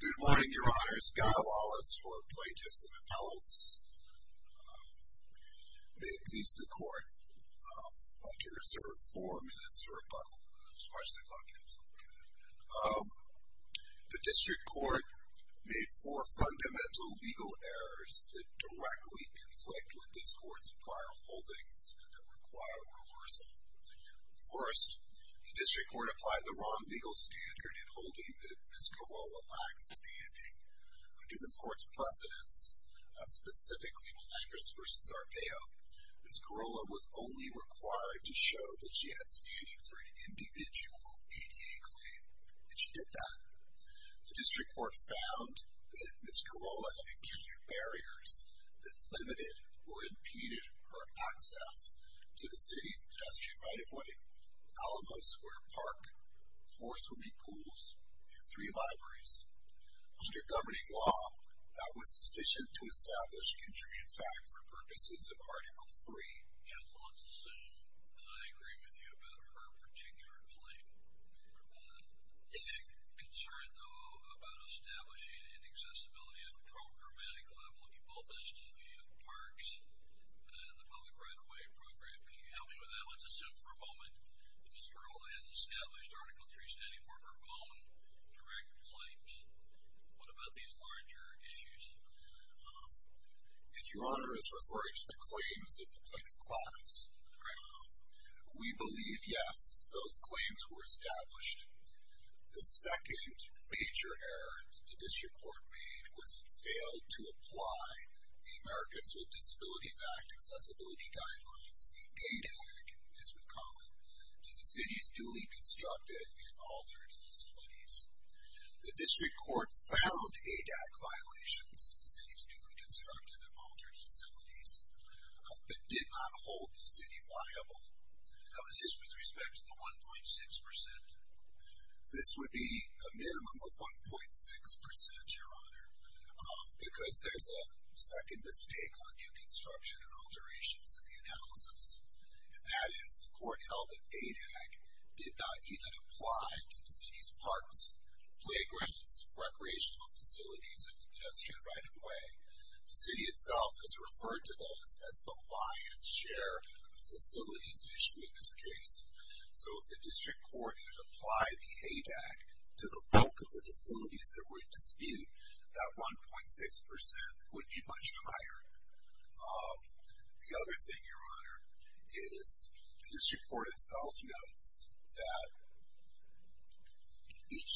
Good morning, Your Honors. Guy Wallace for plaintiffs and appellants. May it please the Court, I'd like to reserve four minutes for rebuttal. The District Court made four fundamental legal errors that directly conflict with this Court's prior holdings and that require reversal. First, the District Court applied the wrong legal standard in holding that Ms. Kirola lacked standing. Under this Court's precedents, specifically Blanquist v. Arpaio, Ms. Kirola was only required to show that she had standing for an individual ADA claim. And she did that. The District Court found that Ms. Kirola had acute barriers that limited or impeded her access to the city's pedestrian right-of-way, Alamo Square Park, four swimming pools, and three libraries. Under governing law, that was sufficient to establish contribute fact for purposes of Article III. Counsel, I assume that I agree with you about her particular claim. Yes. I'm concerned, though, about establishing an accessibility at the programmatic level in both the city of parks and the public right-of-way program. Can you help me with that? Let's assume for a moment that Ms. Kirola has established Article III standing for her own direct claims. What about these larger issues? If Your Honor is referring to the claims of the plaintiff's class, we believe, yes, those claims were established. The second major error that the District Court made was it failed to apply the Americans with Disabilities Act accessibility guidelines, the ADAC, as we call it, to the city's newly constructed and altered facilities. The District Court found ADAC violations in the city's newly constructed and altered facilities, but did not hold the city liable. That was just with respect to the 1.6 percent? This would be a minimum of 1.6 percent, Your Honor, because there's a second mistake on new construction and alterations in the analysis, and that is the court held that ADAC did not even apply to the city's parks, playgrounds, recreational facilities, and pedestrian right-of-way. The city itself has referred to those as the lion's share of facilities issued in this case. So if the District Court had applied the ADAC to the bulk of the facilities that were in dispute, that 1.6 percent would be much higher. The other thing, Your Honor, is the District Court itself notes that each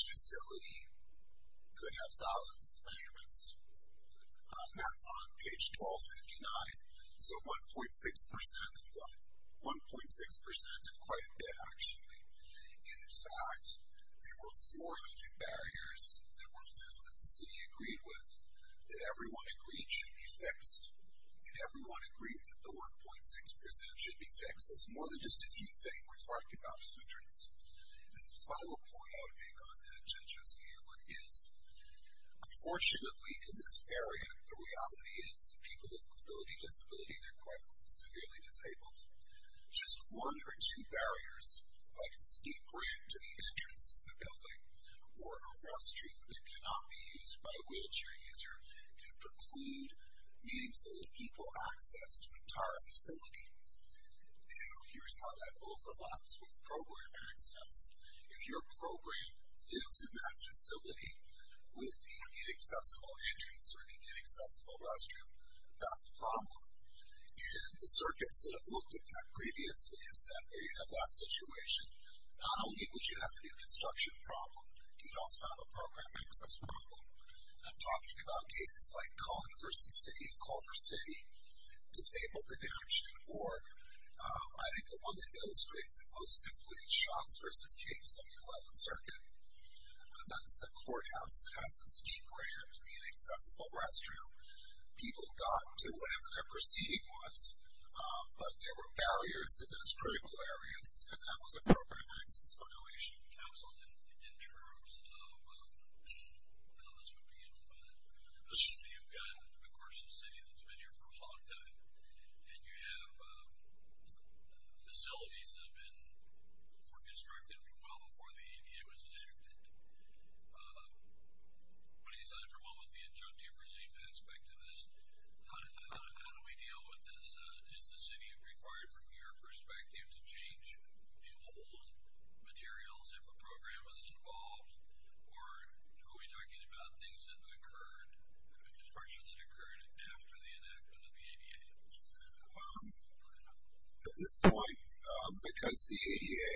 That's on page 1259. So 1.6 percent of what? 1.6 percent of quite a bit, actually. In fact, there were 400 barriers that were found that the city agreed with, that everyone agreed should be fixed, and everyone agreed that the 1.6 percent should be fixed. That's more than just a few things. We're talking about hundreds. And the final point I would make on that, Judge Osceola, is unfortunately in this area the reality is that people with mobility disabilities are quite severely disabled. Just one or two barriers, like a steep ramp to the entrance of a building or a rail street that cannot be used by a wheelchair user, can preclude meaningful and equal access to an entire facility. Now, here's how that overlaps with program access. If your program lives in that facility with the inaccessible entrance or the inaccessible restroom, that's a problem. And the circuits that have looked at that previously have said, well, you have that situation. Not only would you have a new construction problem, you'd also have a program access problem. And I'm talking about cases like Conn v. City of Culver City, disabled in action, or I think the one that illustrates it most simply, Shots v. Case of the 11th Circuit. That's the courthouse that has the steep ramp, the inaccessible restroom. People got to whatever their proceeding was, but there were barriers in those critical areas, and that was a program access violation. Counsel, in terms of how this would be implemented, you've got, of course, a city that's been here for a long time, and you have facilities that have been, were constructed well before the ADA was enacted. But he said, for one, with the adjunctive relief aspect of this, how do we deal with this? Is the city required, from your perspective, to change new or old materials if a program was involved? Or are we talking about things that occurred, construction that occurred after the enactment of the ADA? At this point, because the ADA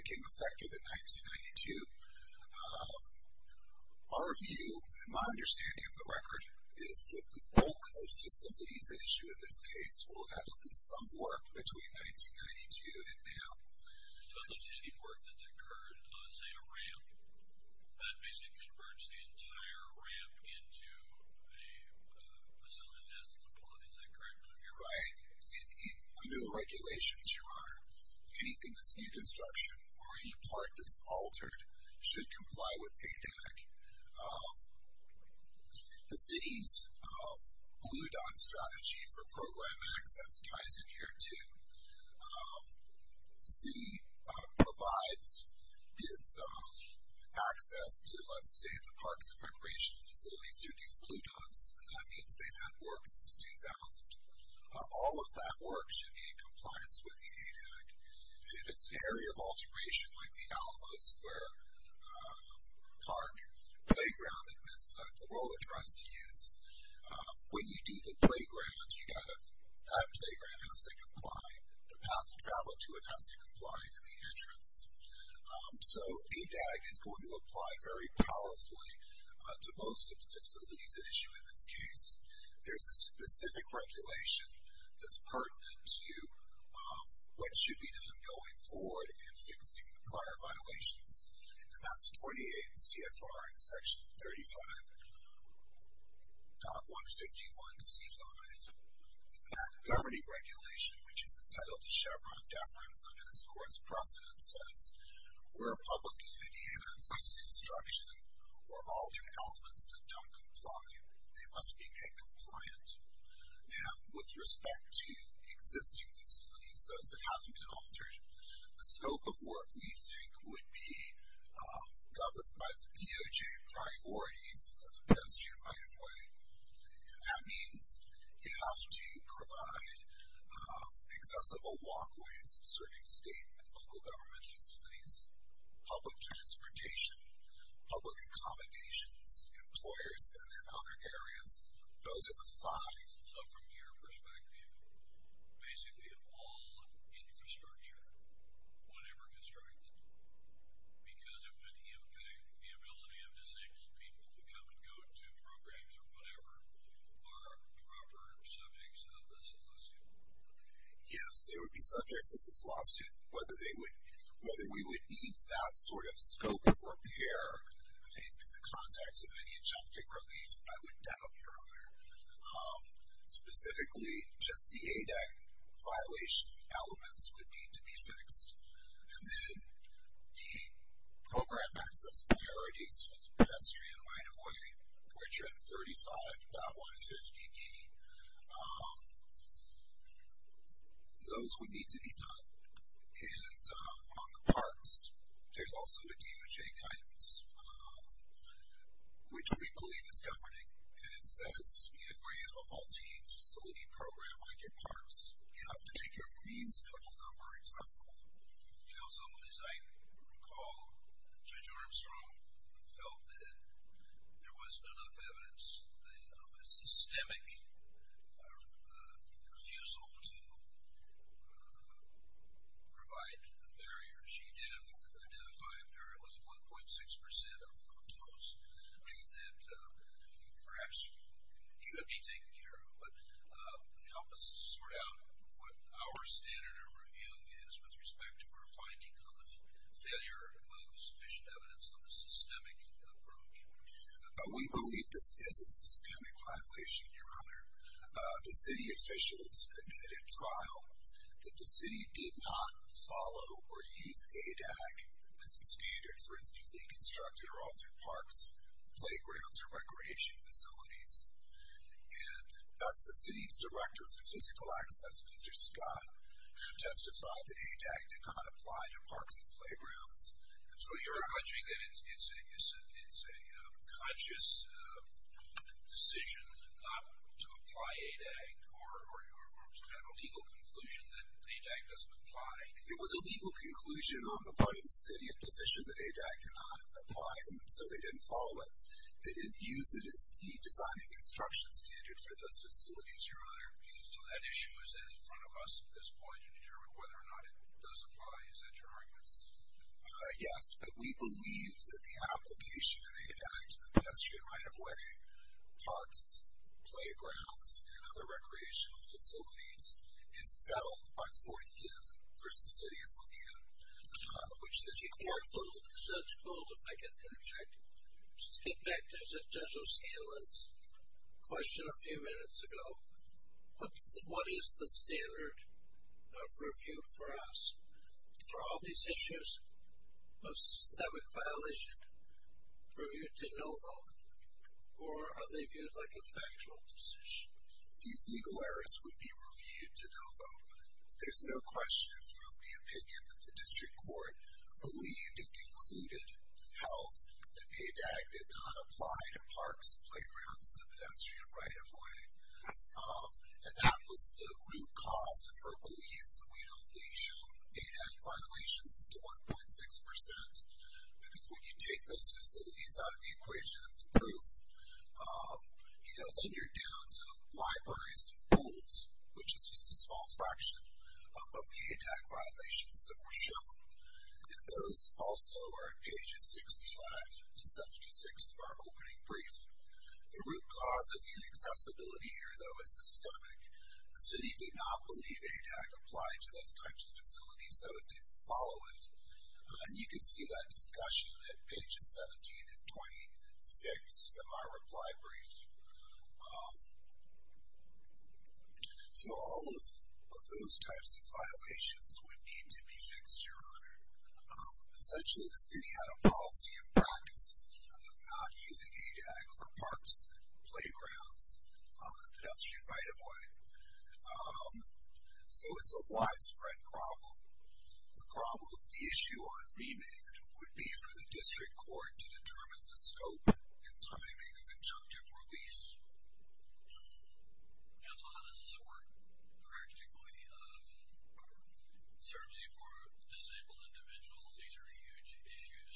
became effective in 1992, our view, and my understanding of the record, is that the bulk of the facilities at issue in this case will have at least some work between 1992 and now. So does any work that's occurred on, say, a ramp, that basically converts the entire ramp into a facility that has the capabilities that currently exist? Right. Under the regulations, Your Honor, anything that's new construction or any part that's altered should comply with ADAC. The city's Blue Dot strategy for program access ties in here, too. The city provides its access to, let's say, the parks and recreational facilities through these Blue Dots, and that means they've had work since 2000. All of that work should be in compliance with the ADAC. If it's an area of alteration, like the Alamo Square Park Playground, the role it tries to use, when you do the playgrounds, the playground has to comply, the path of travel to it has to comply to the entrance. So ADAC is going to apply very powerfully to most of the facilities at issue in this case. There's a specific regulation that's pertinent to what should be done going forward in fixing the prior violations, and that's 28 CFR and Section 35.151C5. That governing regulation, which is entitled to Chevron deference under this court's precedent, says where a public unit has construction or altered elements that don't comply, they must be made compliant. Now, with respect to existing facilities, those that haven't been altered, the scope of work we think would be governed by the DOJ priorities in the best unified way, and that means you have to provide accessible walkways serving state and local government facilities, public transportation, public accommodations, employers, and then other areas. Those are the five. So from your perspective, basically all infrastructure, whatever is right, because of the ability of disabled people to come and go to programs or whatever, are proper subjects of this lawsuit? Yes, they would be subjects of this lawsuit. Whether we would need that sort of scope of repair, I think, in the context of any adjunctive release, I would doubt your honor. Specifically, just the ADEC violation elements would need to be fixed, and then the program access priorities for the pedestrian right-of-way, which are at 35.150D, those would need to be done. And on the parks, there's also a DOJ guidance, which we believe is governing, and it says where you have a multi-facility program like in parks, you have to make a reasonable number accessible. You know, someone, as I recall, Judge Armstrong, felt that there wasn't enough evidence of a systemic refusal to provide a barrier. She did identify apparently 1.6% of those, that perhaps should be taken care of. But help us sort out what our standard of review is with respect to our finding on the failure of sufficient evidence on the systemic approach. We believe this is a systemic violation, your honor. The city officials admitted at trial that the city did not follow or use ADEC as a standard for its newly constructed or altered parks, playgrounds, or recreation facilities. And thus, the city's director for physical access, Mr. Scott, testified that ADEC did not apply to parks and playgrounds. So you're alleging that it's a conscious decision not to apply ADEC or to have a legal conclusion that ADEC doesn't apply? It was a legal conclusion on the part of the city in a position that ADEC cannot apply, and so they didn't follow it. They didn't use it as the design and construction standards for those facilities, your honor. So that issue is in front of us at this point to determine whether or not it does apply. Is that your argument? Yes, but we believe that the application of ADEC to the pedestrian right-of-way, parks, playgrounds, and other recreational facilities is settled by 40-N versus City of Bonita, which this court holds. The judge holds, if I can interject. Let's get back to Judge O'Scanlan's question a few minutes ago. What is the standard of review for us? Are all these issues of systemic violation reviewed to no vote, or are they viewed like a factual decision? These legal errors would be reviewed to no vote. There's no question from the opinion that the district court believed and concluded held that ADEC did not apply to parks, playgrounds, and the pedestrian right-of-way, and that was the root cause of her belief that we'd only shown ADEC violations as to 1.6%, because when you take those facilities out of the equation of the proof, which is just a small fraction of the ADEC violations that were shown, and those also are on pages 65 to 76 of our opening brief, the root cause of the inaccessibility here, though, is systemic. The city did not believe ADEC applied to those types of facilities, so it didn't follow it. And you can see that discussion at pages 17 and 26 of our reply brief. So all of those types of violations would need to be fixed, Your Honor. Essentially, the city had a policy in practice of not using ADEC for parks, playgrounds, and the pedestrian right-of-way. So it's a widespread problem. The problem, the issue on remand, would be for the district court to determine the scope and timing of injunctive release. Counsel, how does this work? Practically, certainly for disabled individuals, these are huge issues.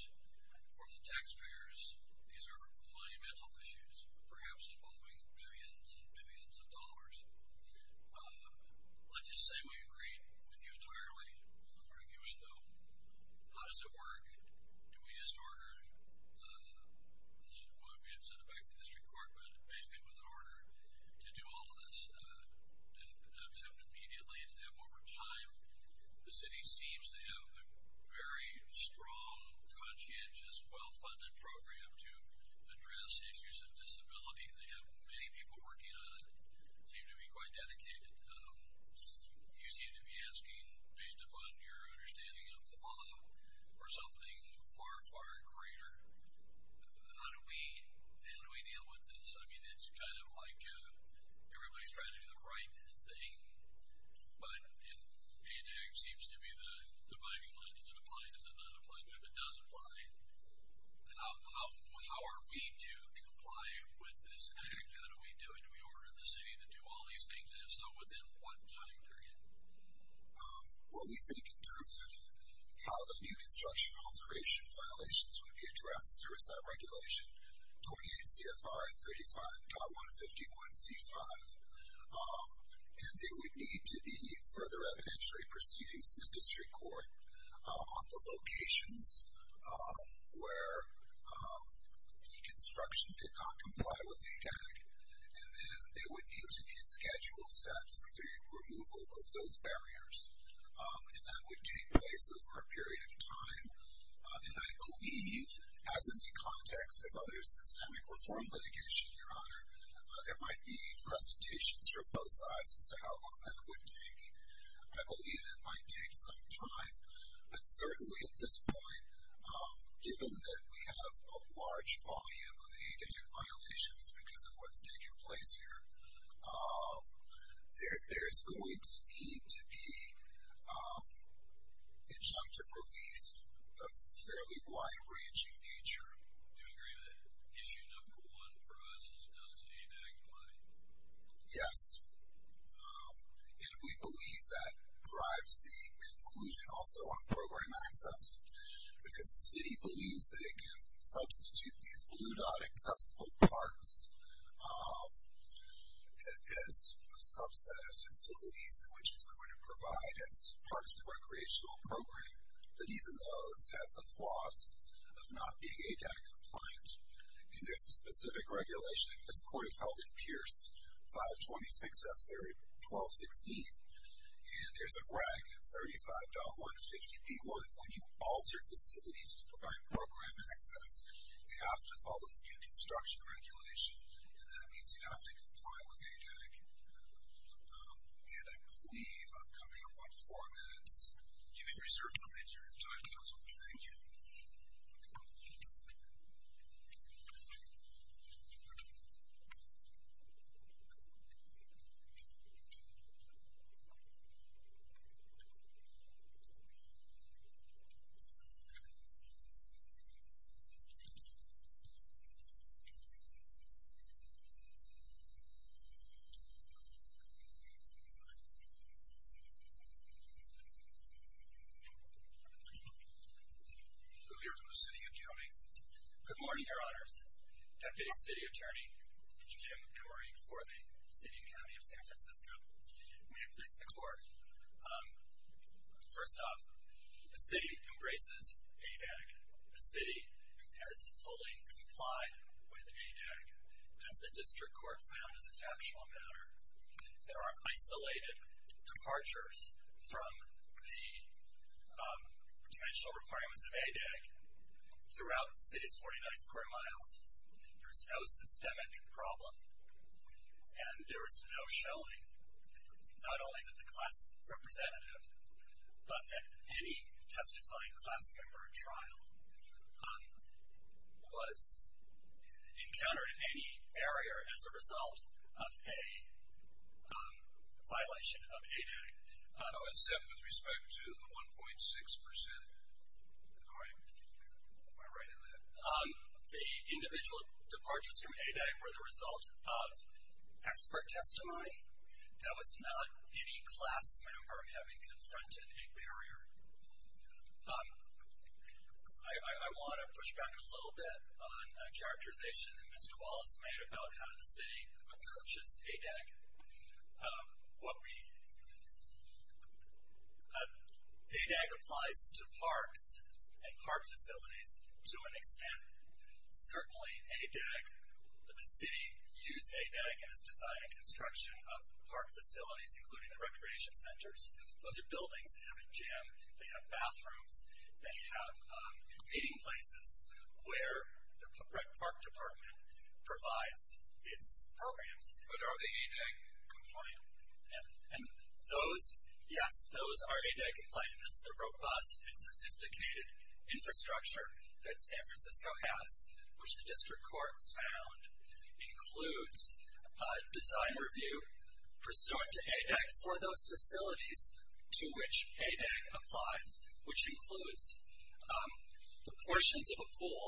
For the taxpayers, these are monumental issues, perhaps involving billions and billions of dollars. Let's just say we agree with you entirely. I'm arguing, though. How does it work? Do we just order? We have sent it back to the district court, but basically with an order to do all of this, to have it immediately, to have it over time. The city seems to have a very strong, conscientious, well-funded program to address issues of disability, and they have many people working on it. They seem to be quite dedicated. You seem to be asking, based upon your understanding of the law, for something far, far greater. How do we deal with this? I mean, it's kind of like everybody's trying to do the right thing, but it seems to be the dividing line. Does it apply? Does it not apply? But if it does apply, how are we to comply with this? How do we do it? How do we get the city to do all these things, and if so, within what time period? Well, we think in terms of how the new construction alteration violations would be addressed through a sub-regulation, 28 CFR 35.151C5, and there would need to be further evidentiary proceedings in the district court on the locations where deconstruction did not comply with ADAC, and then there would need to be a schedule set for the removal of those barriers, and that would take place over a period of time. And I believe, as in the context of other systemic reform litigation, Your Honor, there might be presentations from both sides as to how long that would take. I believe it might take some time, but certainly at this point, given that we have a large volume of ADAC violations because of what's taking place here, there is going to need to be injunctive relief of fairly wide-ranging nature. Do you agree that issue number one for us is those ADAC money? Yes, and we believe that drives the conclusion also on program access because the city believes that it can substitute these blue-dot accessible parks as a subset of facilities in which it's going to provide its parks and recreational program, but even those have the flaws of not being ADAC compliant, and there's a specific regulation. This court is held in Pierce 526F1216, and there's a reg 35.150B1. When you alter facilities to provide program access, you have to follow the new construction regulation, and that means you have to comply with ADAC. And I believe I'm coming up on four minutes. You've been reserved one minute of your time, counsel. Thank you. I'm here from the city and county. Good morning, Your Honors. Deputy City Attorney Jim Emory for the city and county of San Francisco. May it please the court. First off, the city embraces ADAC. The city has fully complied with ADAC, as the district court found as a factual matter. There are isolated departures from the dimensional requirements of ADAC throughout the city's 49 square miles. There's no systemic problem, and there is no showing, not only that the class representative, but that any testifying class member at trial was encountered in any barrier as a result of a violation of ADAC. Oh, except with respect to the 1.6%? Am I right in that? The individual departures from ADAC were the result of expert testimony. There was not any class member having confronted a barrier. I want to push back a little bit on a characterization that Mr. Wallace made about how the city approaches ADAC. ADAC applies to parks and park facilities to an extent. Certainly ADAC, the city used ADAC in its design and construction of park facilities, including the recreation centers. Those are buildings that have a gym, they have bathrooms, they have meeting places where the park department provides its programs. But are they ADAC compliant? And those, yes, those are ADAC compliant. This is the robust and sophisticated infrastructure that San Francisco has, which the district court found includes design review pursuant to ADAC for those facilities to which ADAC applies, which includes the portions of a pool,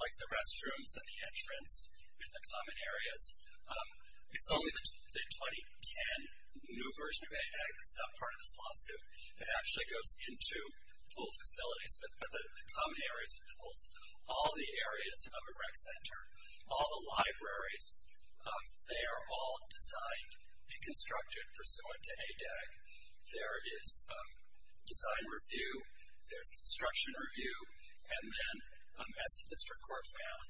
like the restrooms and the entrance and the common areas. It's only the 2010 new version of ADAC that's not part of this lawsuit. It actually goes into pool facilities, but the common areas of pools. They are all designed and constructed pursuant to ADAC. There is design review, there's construction review, and then as the district court found,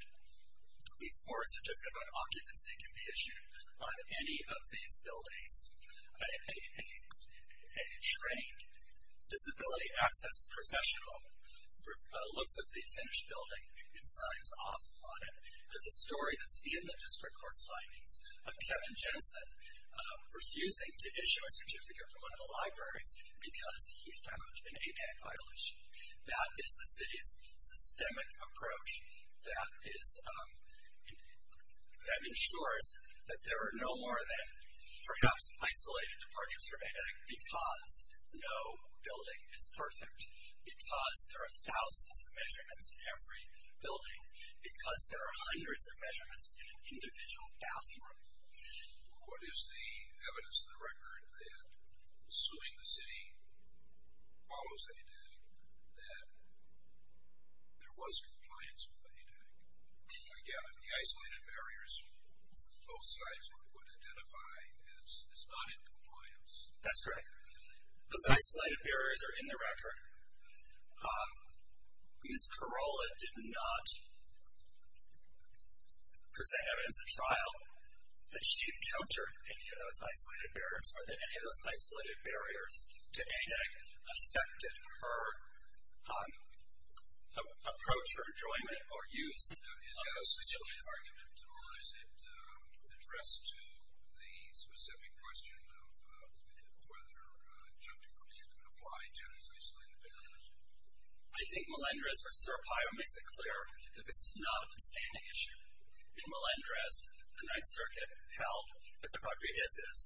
before a certificate of occupancy can be issued on any of these buildings, a trained disability access professional looks at the finished building and signs off on it. There's a story that's in the district court's findings of Kevin Jensen refusing to issue a certificate from one of the libraries because he found an ADAC violation. That is the city's systemic approach that ensures that there are no more than perhaps isolated departures from ADAC because no building is perfect, because there are thousands of measurements in every building, because there are hundreds of measurements in an individual bathroom. What is the evidence of the record that, assuming the city follows ADAC, that there was compliance with ADAC? Again, the isolated barriers both sides would identify as not in compliance. That's correct. Those isolated barriers are in the record. Ms. Carolla did not present evidence at trial that she encountered any of those isolated barriers or that any of those isolated barriers to ADAC affected her approach or enjoyment or use of facilities. Is that a specific argument, or is it addressed to the specific question of whether junk debris can apply to isolated barriers? I think Melendrez v. Serpio makes it clear that this is not a standing issue. In Melendrez, the Ninth Circuit held that the property of his is,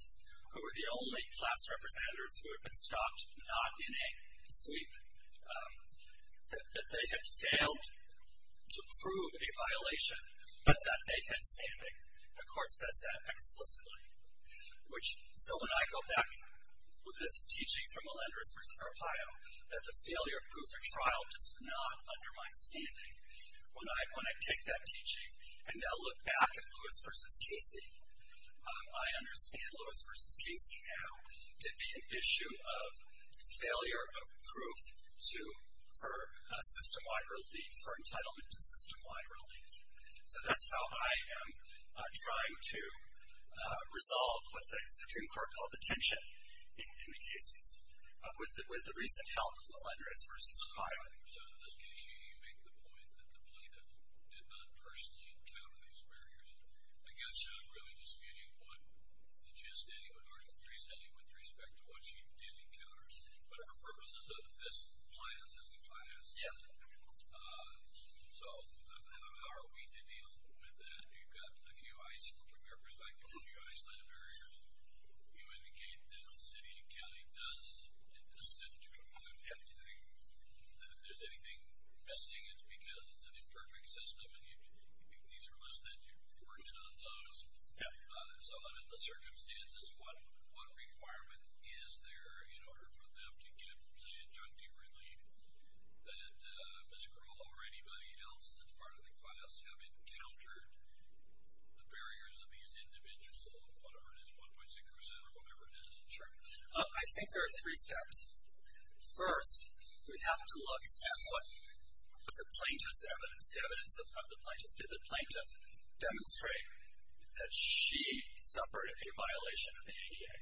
who were the only class representatives who had been stopped, not in a sweep, that they had failed to prove a violation, The court says that explicitly. So when I go back with this teaching from Melendrez v. Serpio, that the failure of proof at trial does not undermine standing, when I take that teaching and now look back at Lewis v. Casey, I understand Lewis v. Casey now to be an issue of failure of proof for system-wide relief, for entitlement to system-wide relief. So that's how I am trying to resolve what the Supreme Court called the tension in the cases with the recent help of Melendrez v. Serpio. So does he make the point that the plaintiff did not personally encounter these barriers? I guess I'm really disputing what she is stating with respect to what she did encounter. But for purposes of this plan, as it applies, so how are we to deal with that? You've got a few, from your perspective, a few Iceland areas. You indicated that the city and county does do a good thing. If there's anything missing, it's because it's an imperfect system and these are listed, you've worked on those. So under the circumstances, what requirement is there in order for them to get, say, conjunctive relief that Ms. Carolla or anybody else that's part of the class have encountered the barriers of these individuals, whatever it is, 1.6% or whatever it is? Sure. I think there are three steps. First, we have to look at what the plaintiff's evidence, the evidence of the plaintiff. Did the plaintiff demonstrate that she suffered a violation of the ADA?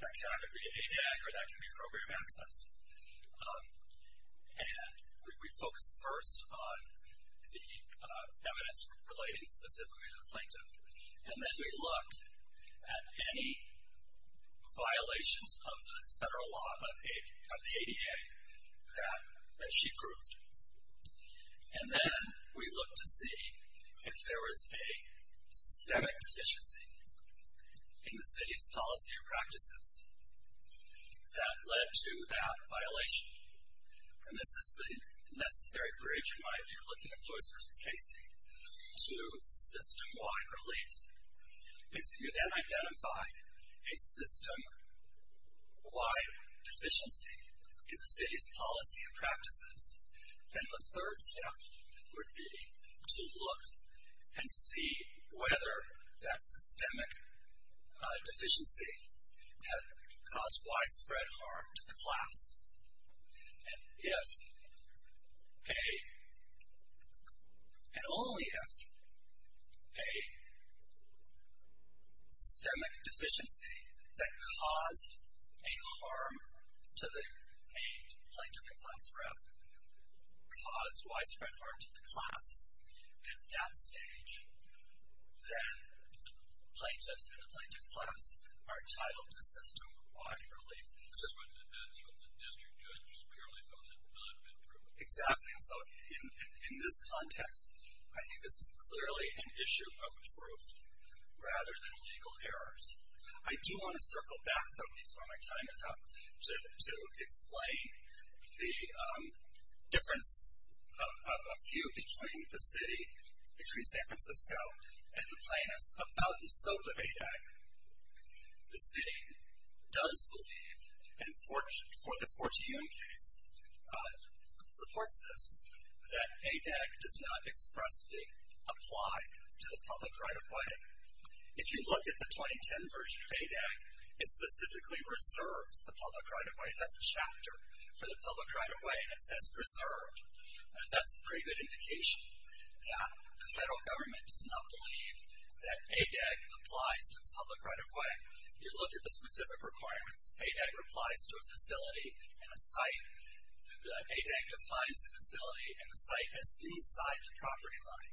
That can either be ADAC or that can be program access. And we focus first on the evidence relating specifically to the plaintiff. And then we look at any violations of the federal law, of the ADA, that she proved. And then we look to see if there is a systemic deficiency in the city's policy or practices that led to that violation. And this is the necessary bridge in my view, looking at Lewis v. Casey, to system-wide relief. If you then identify a system-wide deficiency in the city's policy and practices, then the third step would be to look and see whether that systemic deficiency had caused widespread harm to the class. And only if a systemic deficiency that caused a harm to the plaintiff and class rep caused widespread harm to the class, at that stage, then the plaintiff and the plaintiff's class are titled to system-wide relief. This is what the district did. It just purely felt that it had not been proven. Exactly. And so in this context, I think this is clearly an issue of proof rather than legal errors. I do want to circle back, though, before my time is up to explain the difference of a few between the city, between San Francisco, and the plaintiffs about the scope of ADEC. The city does believe, and for the Fortune case supports this, that ADEC does not expressly apply to the public right-of-way. If you look at the 2010 version of ADEC, it specifically reserves the public right-of-way. That's a chapter for the public right-of-way, and it says reserved. That's a pretty good indication that the federal government does not believe that ADEC applies to the public right-of-way. If you look at the specific requirements, ADEC applies to a facility and a site. ADEC defines a facility and a site as inside the property line.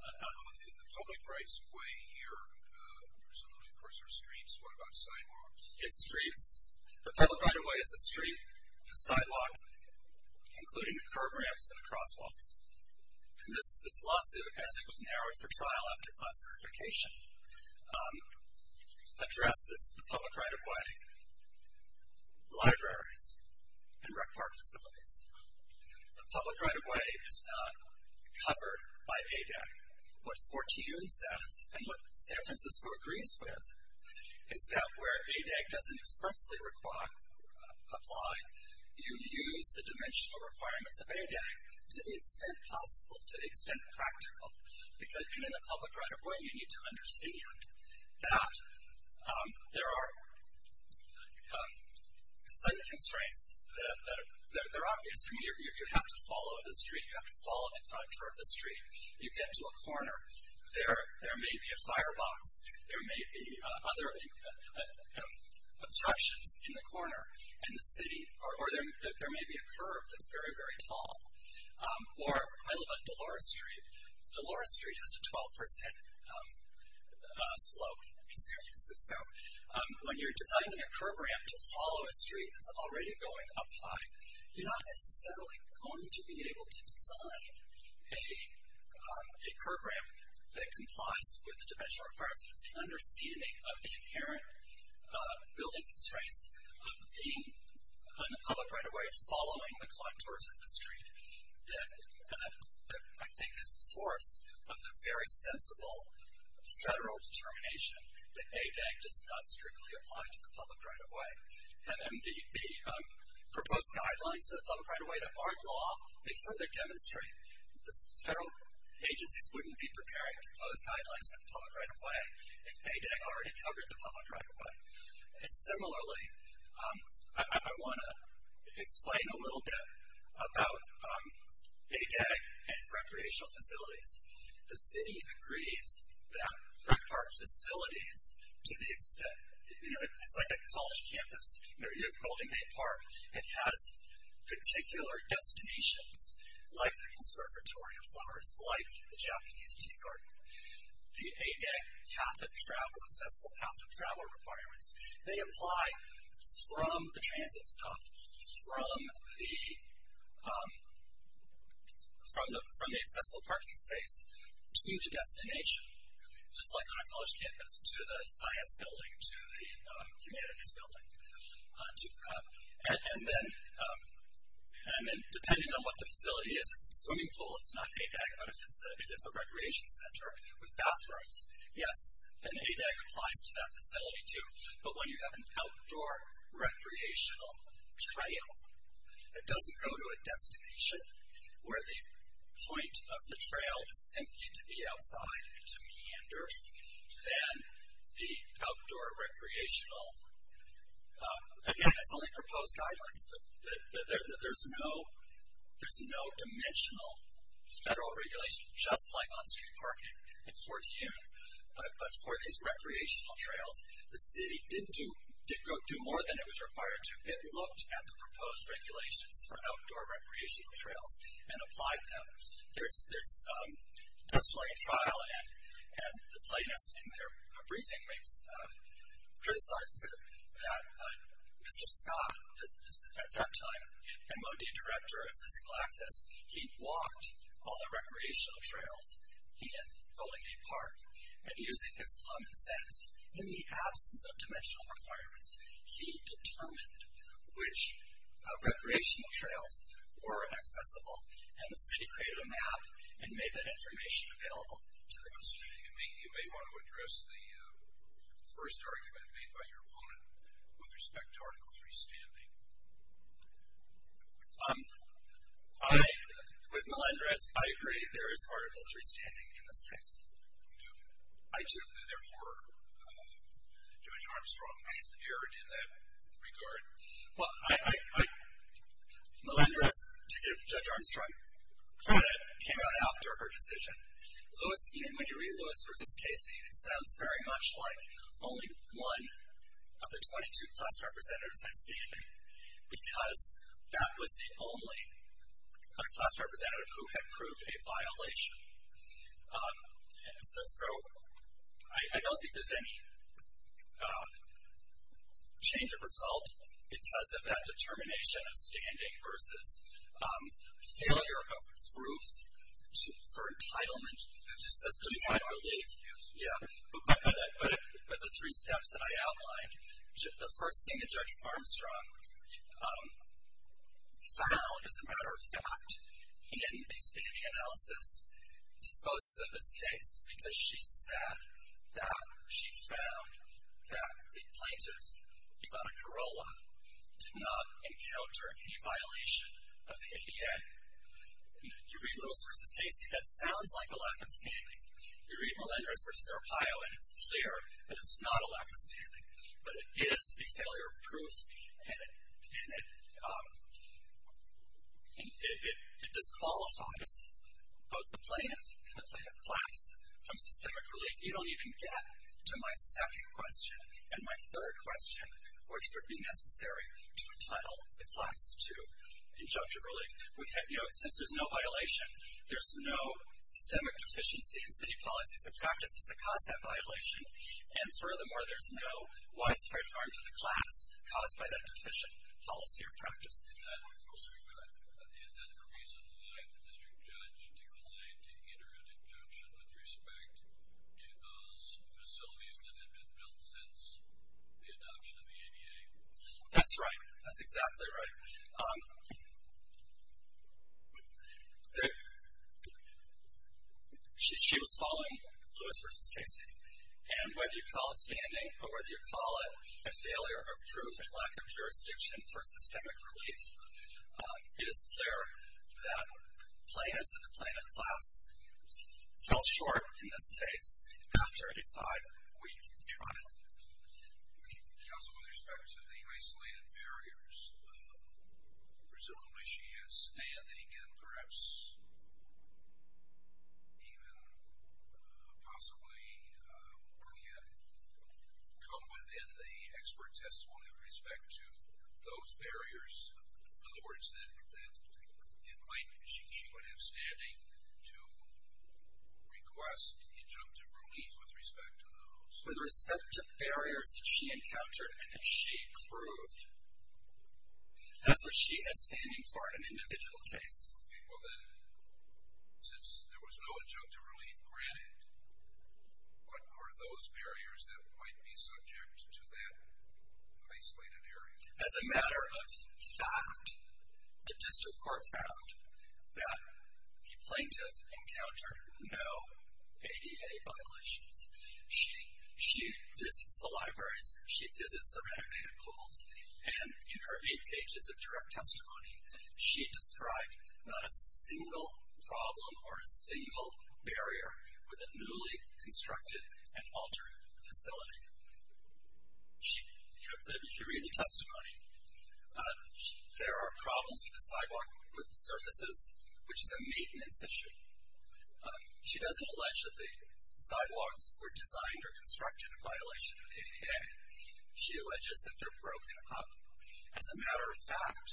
The public right-of-way here, presumably, of course, are streets. What about sidewalks? It's streets. The public right-of-way is a street, a sidewalk, including curb ramps and crosswalks. And this lawsuit, as it was narrowed for trial after class certification, addresses the public right-of-way, libraries, and rec park facilities. The public right-of-way is not covered by ADEC. What Fortune says, and what San Francisco agrees with, is that where ADEC doesn't expressly apply, you use the dimensional requirements of ADEC to the extent possible, to the extent practical. Because in the public right-of-way, you need to understand that there are some constraints that are obvious. I mean, you have to follow the street. You have to follow the contour of the street. You get to a corner. There may be a firebox. There may be other obstructions in the corner in the city. Or there may be a curb that's very, very tall. Or, I love a Dolores Street. Dolores Street has a 12% slope in San Francisco. When you're designing a curb ramp to follow a street that's already going up high, you're not necessarily going to be able to design a curb ramp that complies with the dimensional requirements and understanding of the inherent building constraints of being on the public right-of-way, following the contours of the street. That, I think, is the source of the very sensible federal determination that ADEC does not strictly apply to the public right-of-way. And the proposed guidelines of the public right-of-way that aren't law, they further demonstrate the federal agencies wouldn't be preparing for those guidelines for the public right-of-way if ADEC already covered the public right-of-way. And similarly, I want to explain a little bit about ADEC and recreational facilities. The city agrees that rec park facilities, to the extent, you know, it's like a college campus. You know, you have Golden Gate Park. It has particular destinations, like the Conservatory of Flowers, like the Japanese Tea Garden. The ADEC path of travel, accessible path of travel requirements, they apply from the transit stop, from the accessible parking space, to the destination, just like on a college campus, to the science building, to the humanities building. And then, depending on what the facility is, if it's a swimming pool, it's not ADEC, but if it's a recreation center with bathrooms, yes, then ADEC applies to that facility, too. But when you have an outdoor recreational trail that doesn't go to a destination where the point of the trail is simply to be outside, to meander, then the outdoor recreational, again, it's only proposed guidelines, but there's no dimensional federal regulation, just like on street parking in Fort Union. But for these recreational trails, the city did do more than it was required to. It looked at the proposed regulations for outdoor recreational trails and applied them. There's testimony trial, and the plaintiff in their briefing criticizes it, that Mr. Scott, at that time, MOD Director of Physical Access, he walked all the recreational trails in Golden Gate Park, and using his common sense, in the absence of dimensional requirements, he determined which recreational trails were accessible, and the city created a map and made that information available to the community. You may want to address the first argument made by your opponent with respect to Article III standing. With Melendrez, I agree there is Article III standing in this case. You do? I do. Therefore, Judge Armstrong, you're in that regard. Well, Melendrez, to give Judge Armstrong credit, came out after her decision. When you read Lewis v. Casey, it sounds very much like only one of the 22 class representatives had standing, because that was the only class representative who had proved a violation. And so I don't think there's any change of result because of that determination of standing versus failure of proof for entitlement to system-wide relief. Yes. Yeah. But the three steps that I outlined, the first thing that Judge Armstrong found, as a matter of fact, in the standing analysis disposed of this case, because she said that she found that the plaintiff, Ivana Carolla, did not encounter any violation of the ADA. You read Lewis v. Casey, that sounds like a lack of standing. You read Melendrez v. Arpaio, and it's clear that it's not a lack of standing. But it is a failure of proof, and it disqualifies both the plaintiff and the plaintiff class from systemic relief. You don't even get to my second question and my third question, which would be necessary to entitle the class to injunctive relief. You know, since there's no violation, there's no systemic deficiency in city policies and practices that cause that violation. And furthermore, there's no widespread harm to the class caused by that deficient policy or practice. Is that the reason why the district judge declined to enter an injunction with respect to those facilities that had been built since the adoption of the ADA? That's right. That's exactly right. She was following Lewis v. Casey. And whether you call it standing or whether you call it a failure of proof and lack of jurisdiction for systemic relief, it is clear that plaintiffs and the plaintiff class fell short in this case after a five-week trial. Counsel, with respect to the isolated barriers, presumably she is standing and perhaps even possibly can come within the expert testimony with respect to those barriers. In other words, in plaintiff, she would have standing to request injunctive relief with respect to those. With respect to barriers that she encountered and that she proved, that's what she is standing for in an individual case. Okay, well then, since there was no injunctive relief granted, what are those barriers that might be subject to that isolated area? As a matter of fact, the district court found that the plaintiff encountered no ADA violations. She visits the libraries. She visits the renegade pools. And in her eight pages of direct testimony, she described not a single problem or a single barrier with a newly constructed and altered facility. You should read the testimony. There are problems with the sidewalk surfaces, which is a maintenance issue. She doesn't allege that the sidewalks were designed or constructed in violation of the ADA. She alleges that they're broken up. As a matter of fact,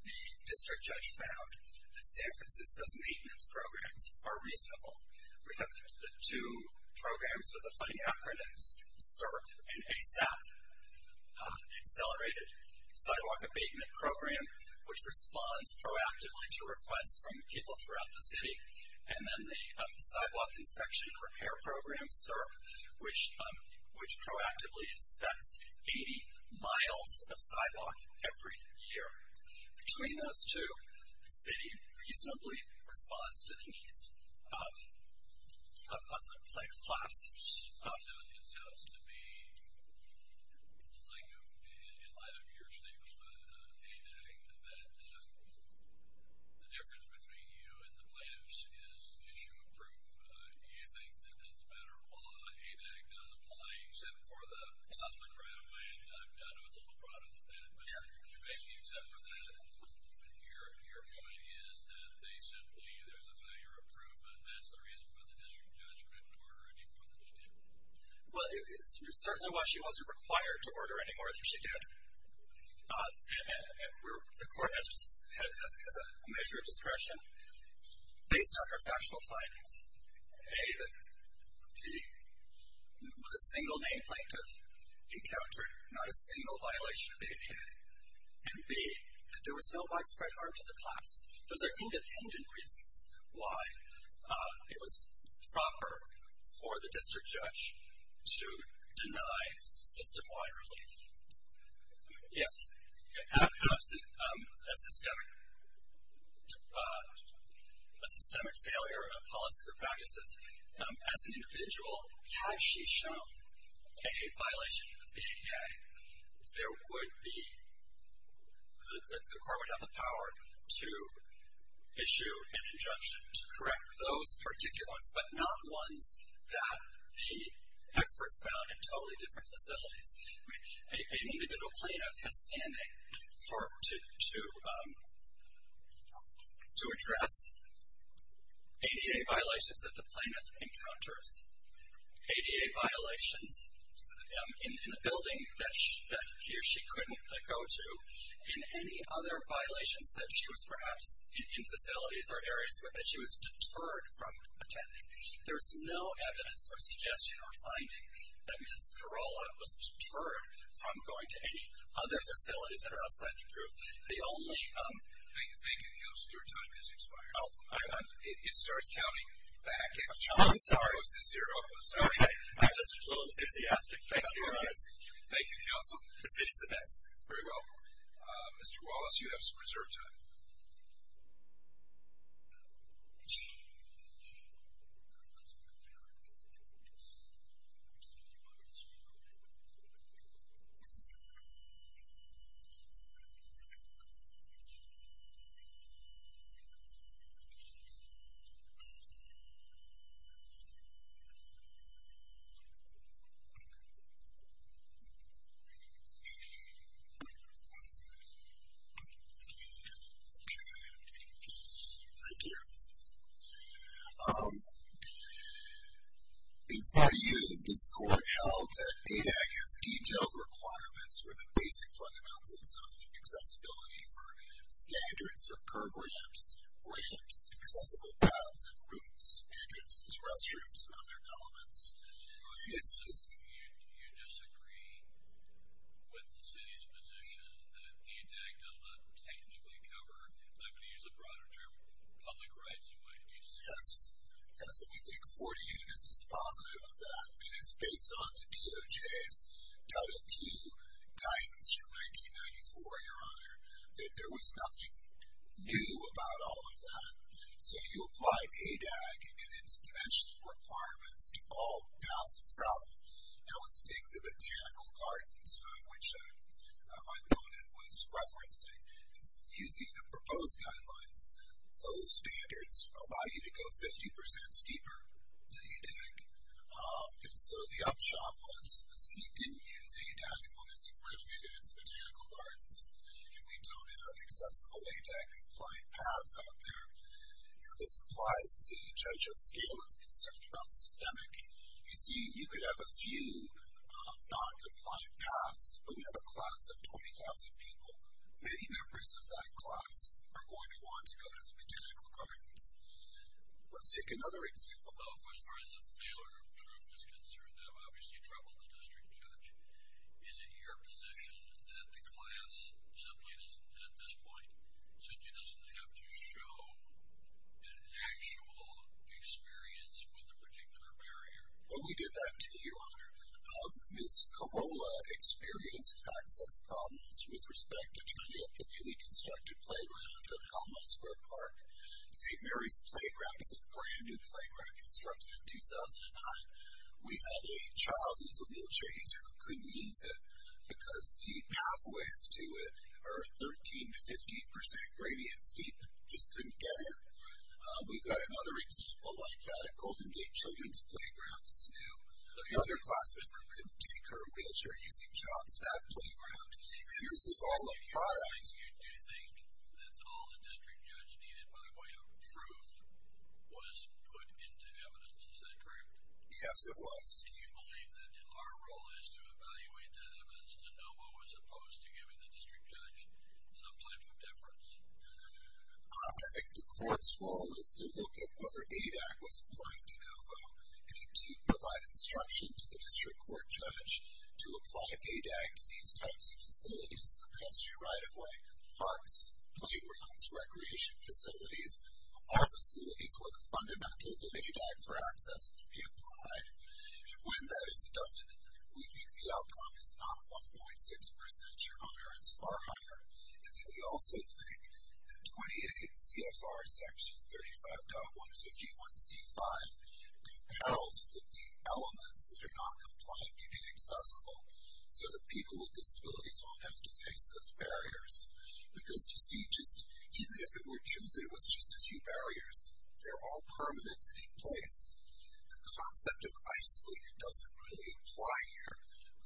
the district judge found that San Francisco's maintenance programs are reasonable. We have the two programs with the funny acronyms, CERT and ASAP, accelerated sidewalk abatement program, which responds proactively to requests from people throughout the city. And then the sidewalk inspection repair program, CERT, which proactively inspects 80 miles of sidewalk every year. Between those two, the city reasonably responds to the needs of the plaintiff's class. It sounds to me, in light of your statement on ADAG, that the difference between you and the plaintiffs is issue of proof. You think that as a matter of law, ADAG doesn't apply except for the public right of way. And I know it's a little broad on the pen, but you basically accept that. And your point is that they simply, there's a failure of proof, but that's the reason why the district judge couldn't order any more than she did. Well, it's certainly why she wasn't required to order any more than she did. And the court has a measure of discretion based on her factual findings. A, that the single name plaintiff encountered not a single violation of ADA. And B, that there was no widespread harm to the class. Those are independent reasons why it was proper for the district judge to deny system-wide relief. If, perhaps, a systemic failure of policy or practices, as an individual, had she shown a violation of the ADA, there would be, the court would have the power to issue an injunction to correct those particulars, but not ones that the experts found in totally different facilities. An individual plaintiff has standing to address ADA violations that the plaintiff encounters, ADA violations in the building that she couldn't go to, and any other violations that she was, perhaps, in facilities or areas where she was deterred from attending. There's no evidence or suggestion or finding that Ms. Carolla was deterred from going to any other facilities that are outside the group. The only... I think it goes through time, it's expired. It starts counting back. I'm sorry. It goes to zero. Okay. I'm just a little enthusiastic. Thank you, Your Honor. Thank you, Counsel. The city's the best. Very well. Mr. Wallace, you have some reserved time. Okay. Thank you. In front of you, this court held that ADAC has detailed requirements for the basic fundamentals of accessibility for standards for curb ramps, ramps, accessible paths and routes, entrances, restrooms and other elements. You disagree with the city's position that ADAC does not technically cover, I'm going to use a broader term, public rights in what it means. Yes. Yes, and we think 40 units is positive of that, and it's based on the DOJ's Title II guidance from 1994, Your Honor, that there was nothing new about all of that. So you applied ADAC and its dimensional requirements to all paths of travel. Now let's take the botanical gardens, which my opponent was referencing is using the proposed guidelines, those standards allow you to go 50% steeper than ADAC, and so the upshot was the city didn't use ADAC when it's renovated its botanical gardens. We don't have accessible ADAC compliant paths out there. This applies to Judge O'Scalin's concern about systemic. You see, you could have a few non-compliant paths, but we have a class of 20,000 people. Many members of that class are going to want to go to the botanical gardens. Let's take another example. Well, of course, as far as the failure of proof is concerned, that would obviously trouble the district judge. Is it your position that the class simply, at this point, simply doesn't have to show an actual experience with a particular barrier? Well, we did that to you, Your Honor. Ms. Corolla experienced access problems with respect to trying to get the newly constructed playground at Alma Square Park. St. Mary's Playground is a brand-new playground constructed in 2009. We had a child who was a wheelchair user who couldn't use it because the pathways to it are 13 to 15 percent gradient steep, just couldn't get in. We've got another example like that at Golden Gate Children's Playground that's new. Another class member couldn't take her wheelchair-using child to that playground. And this is all a product. You do think that all the district judge needed by way of proof was put into evidence. Is that correct? Yes, it was. And you believe that our role is to evaluate that evidence. DeNovo was opposed to giving the district judge some type of deference? I think the court's role is to look at whether ADAC was applying DeNovo and to provide instruction to the district court judge to apply ADAC to these types of facilities. The pedestrian right-of-way, parks, playgrounds, recreation facilities are facilities where the fundamentals of ADAC for access can be applied. And when that is done, we think the outcome is not 1.6 percent sure, it's far higher. And then we also think that 28 CFR Section 35.151C5 compels that the elements that are not compliant be made accessible so that people with disabilities won't have to face those barriers. Because, you see, even if it were true that it was just a few barriers, they're all permanent and in place. The concept of isolated doesn't really apply here,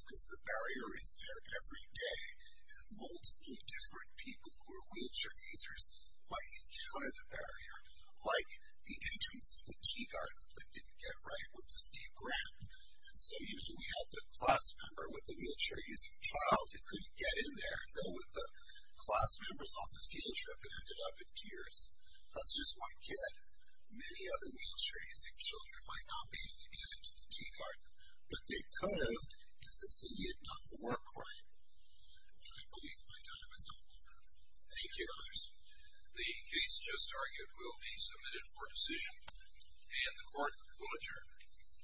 because the barrier is there every day, and multiple different people who are wheelchair users might encounter the barrier, like the entrance to the T-dart that didn't get right with the Steve Grant. And so, you know, we had the class member with the wheelchair-using child that couldn't get in there and go with the class members on the field trip and ended up in tears. That's just one kid. Many other wheelchair-using children might not be able to get into the T-dart, but they could have because the city had done the work for them. And I believe my time is up. Thank you, others. The case just argued will be submitted for decision, and the court will adjourn.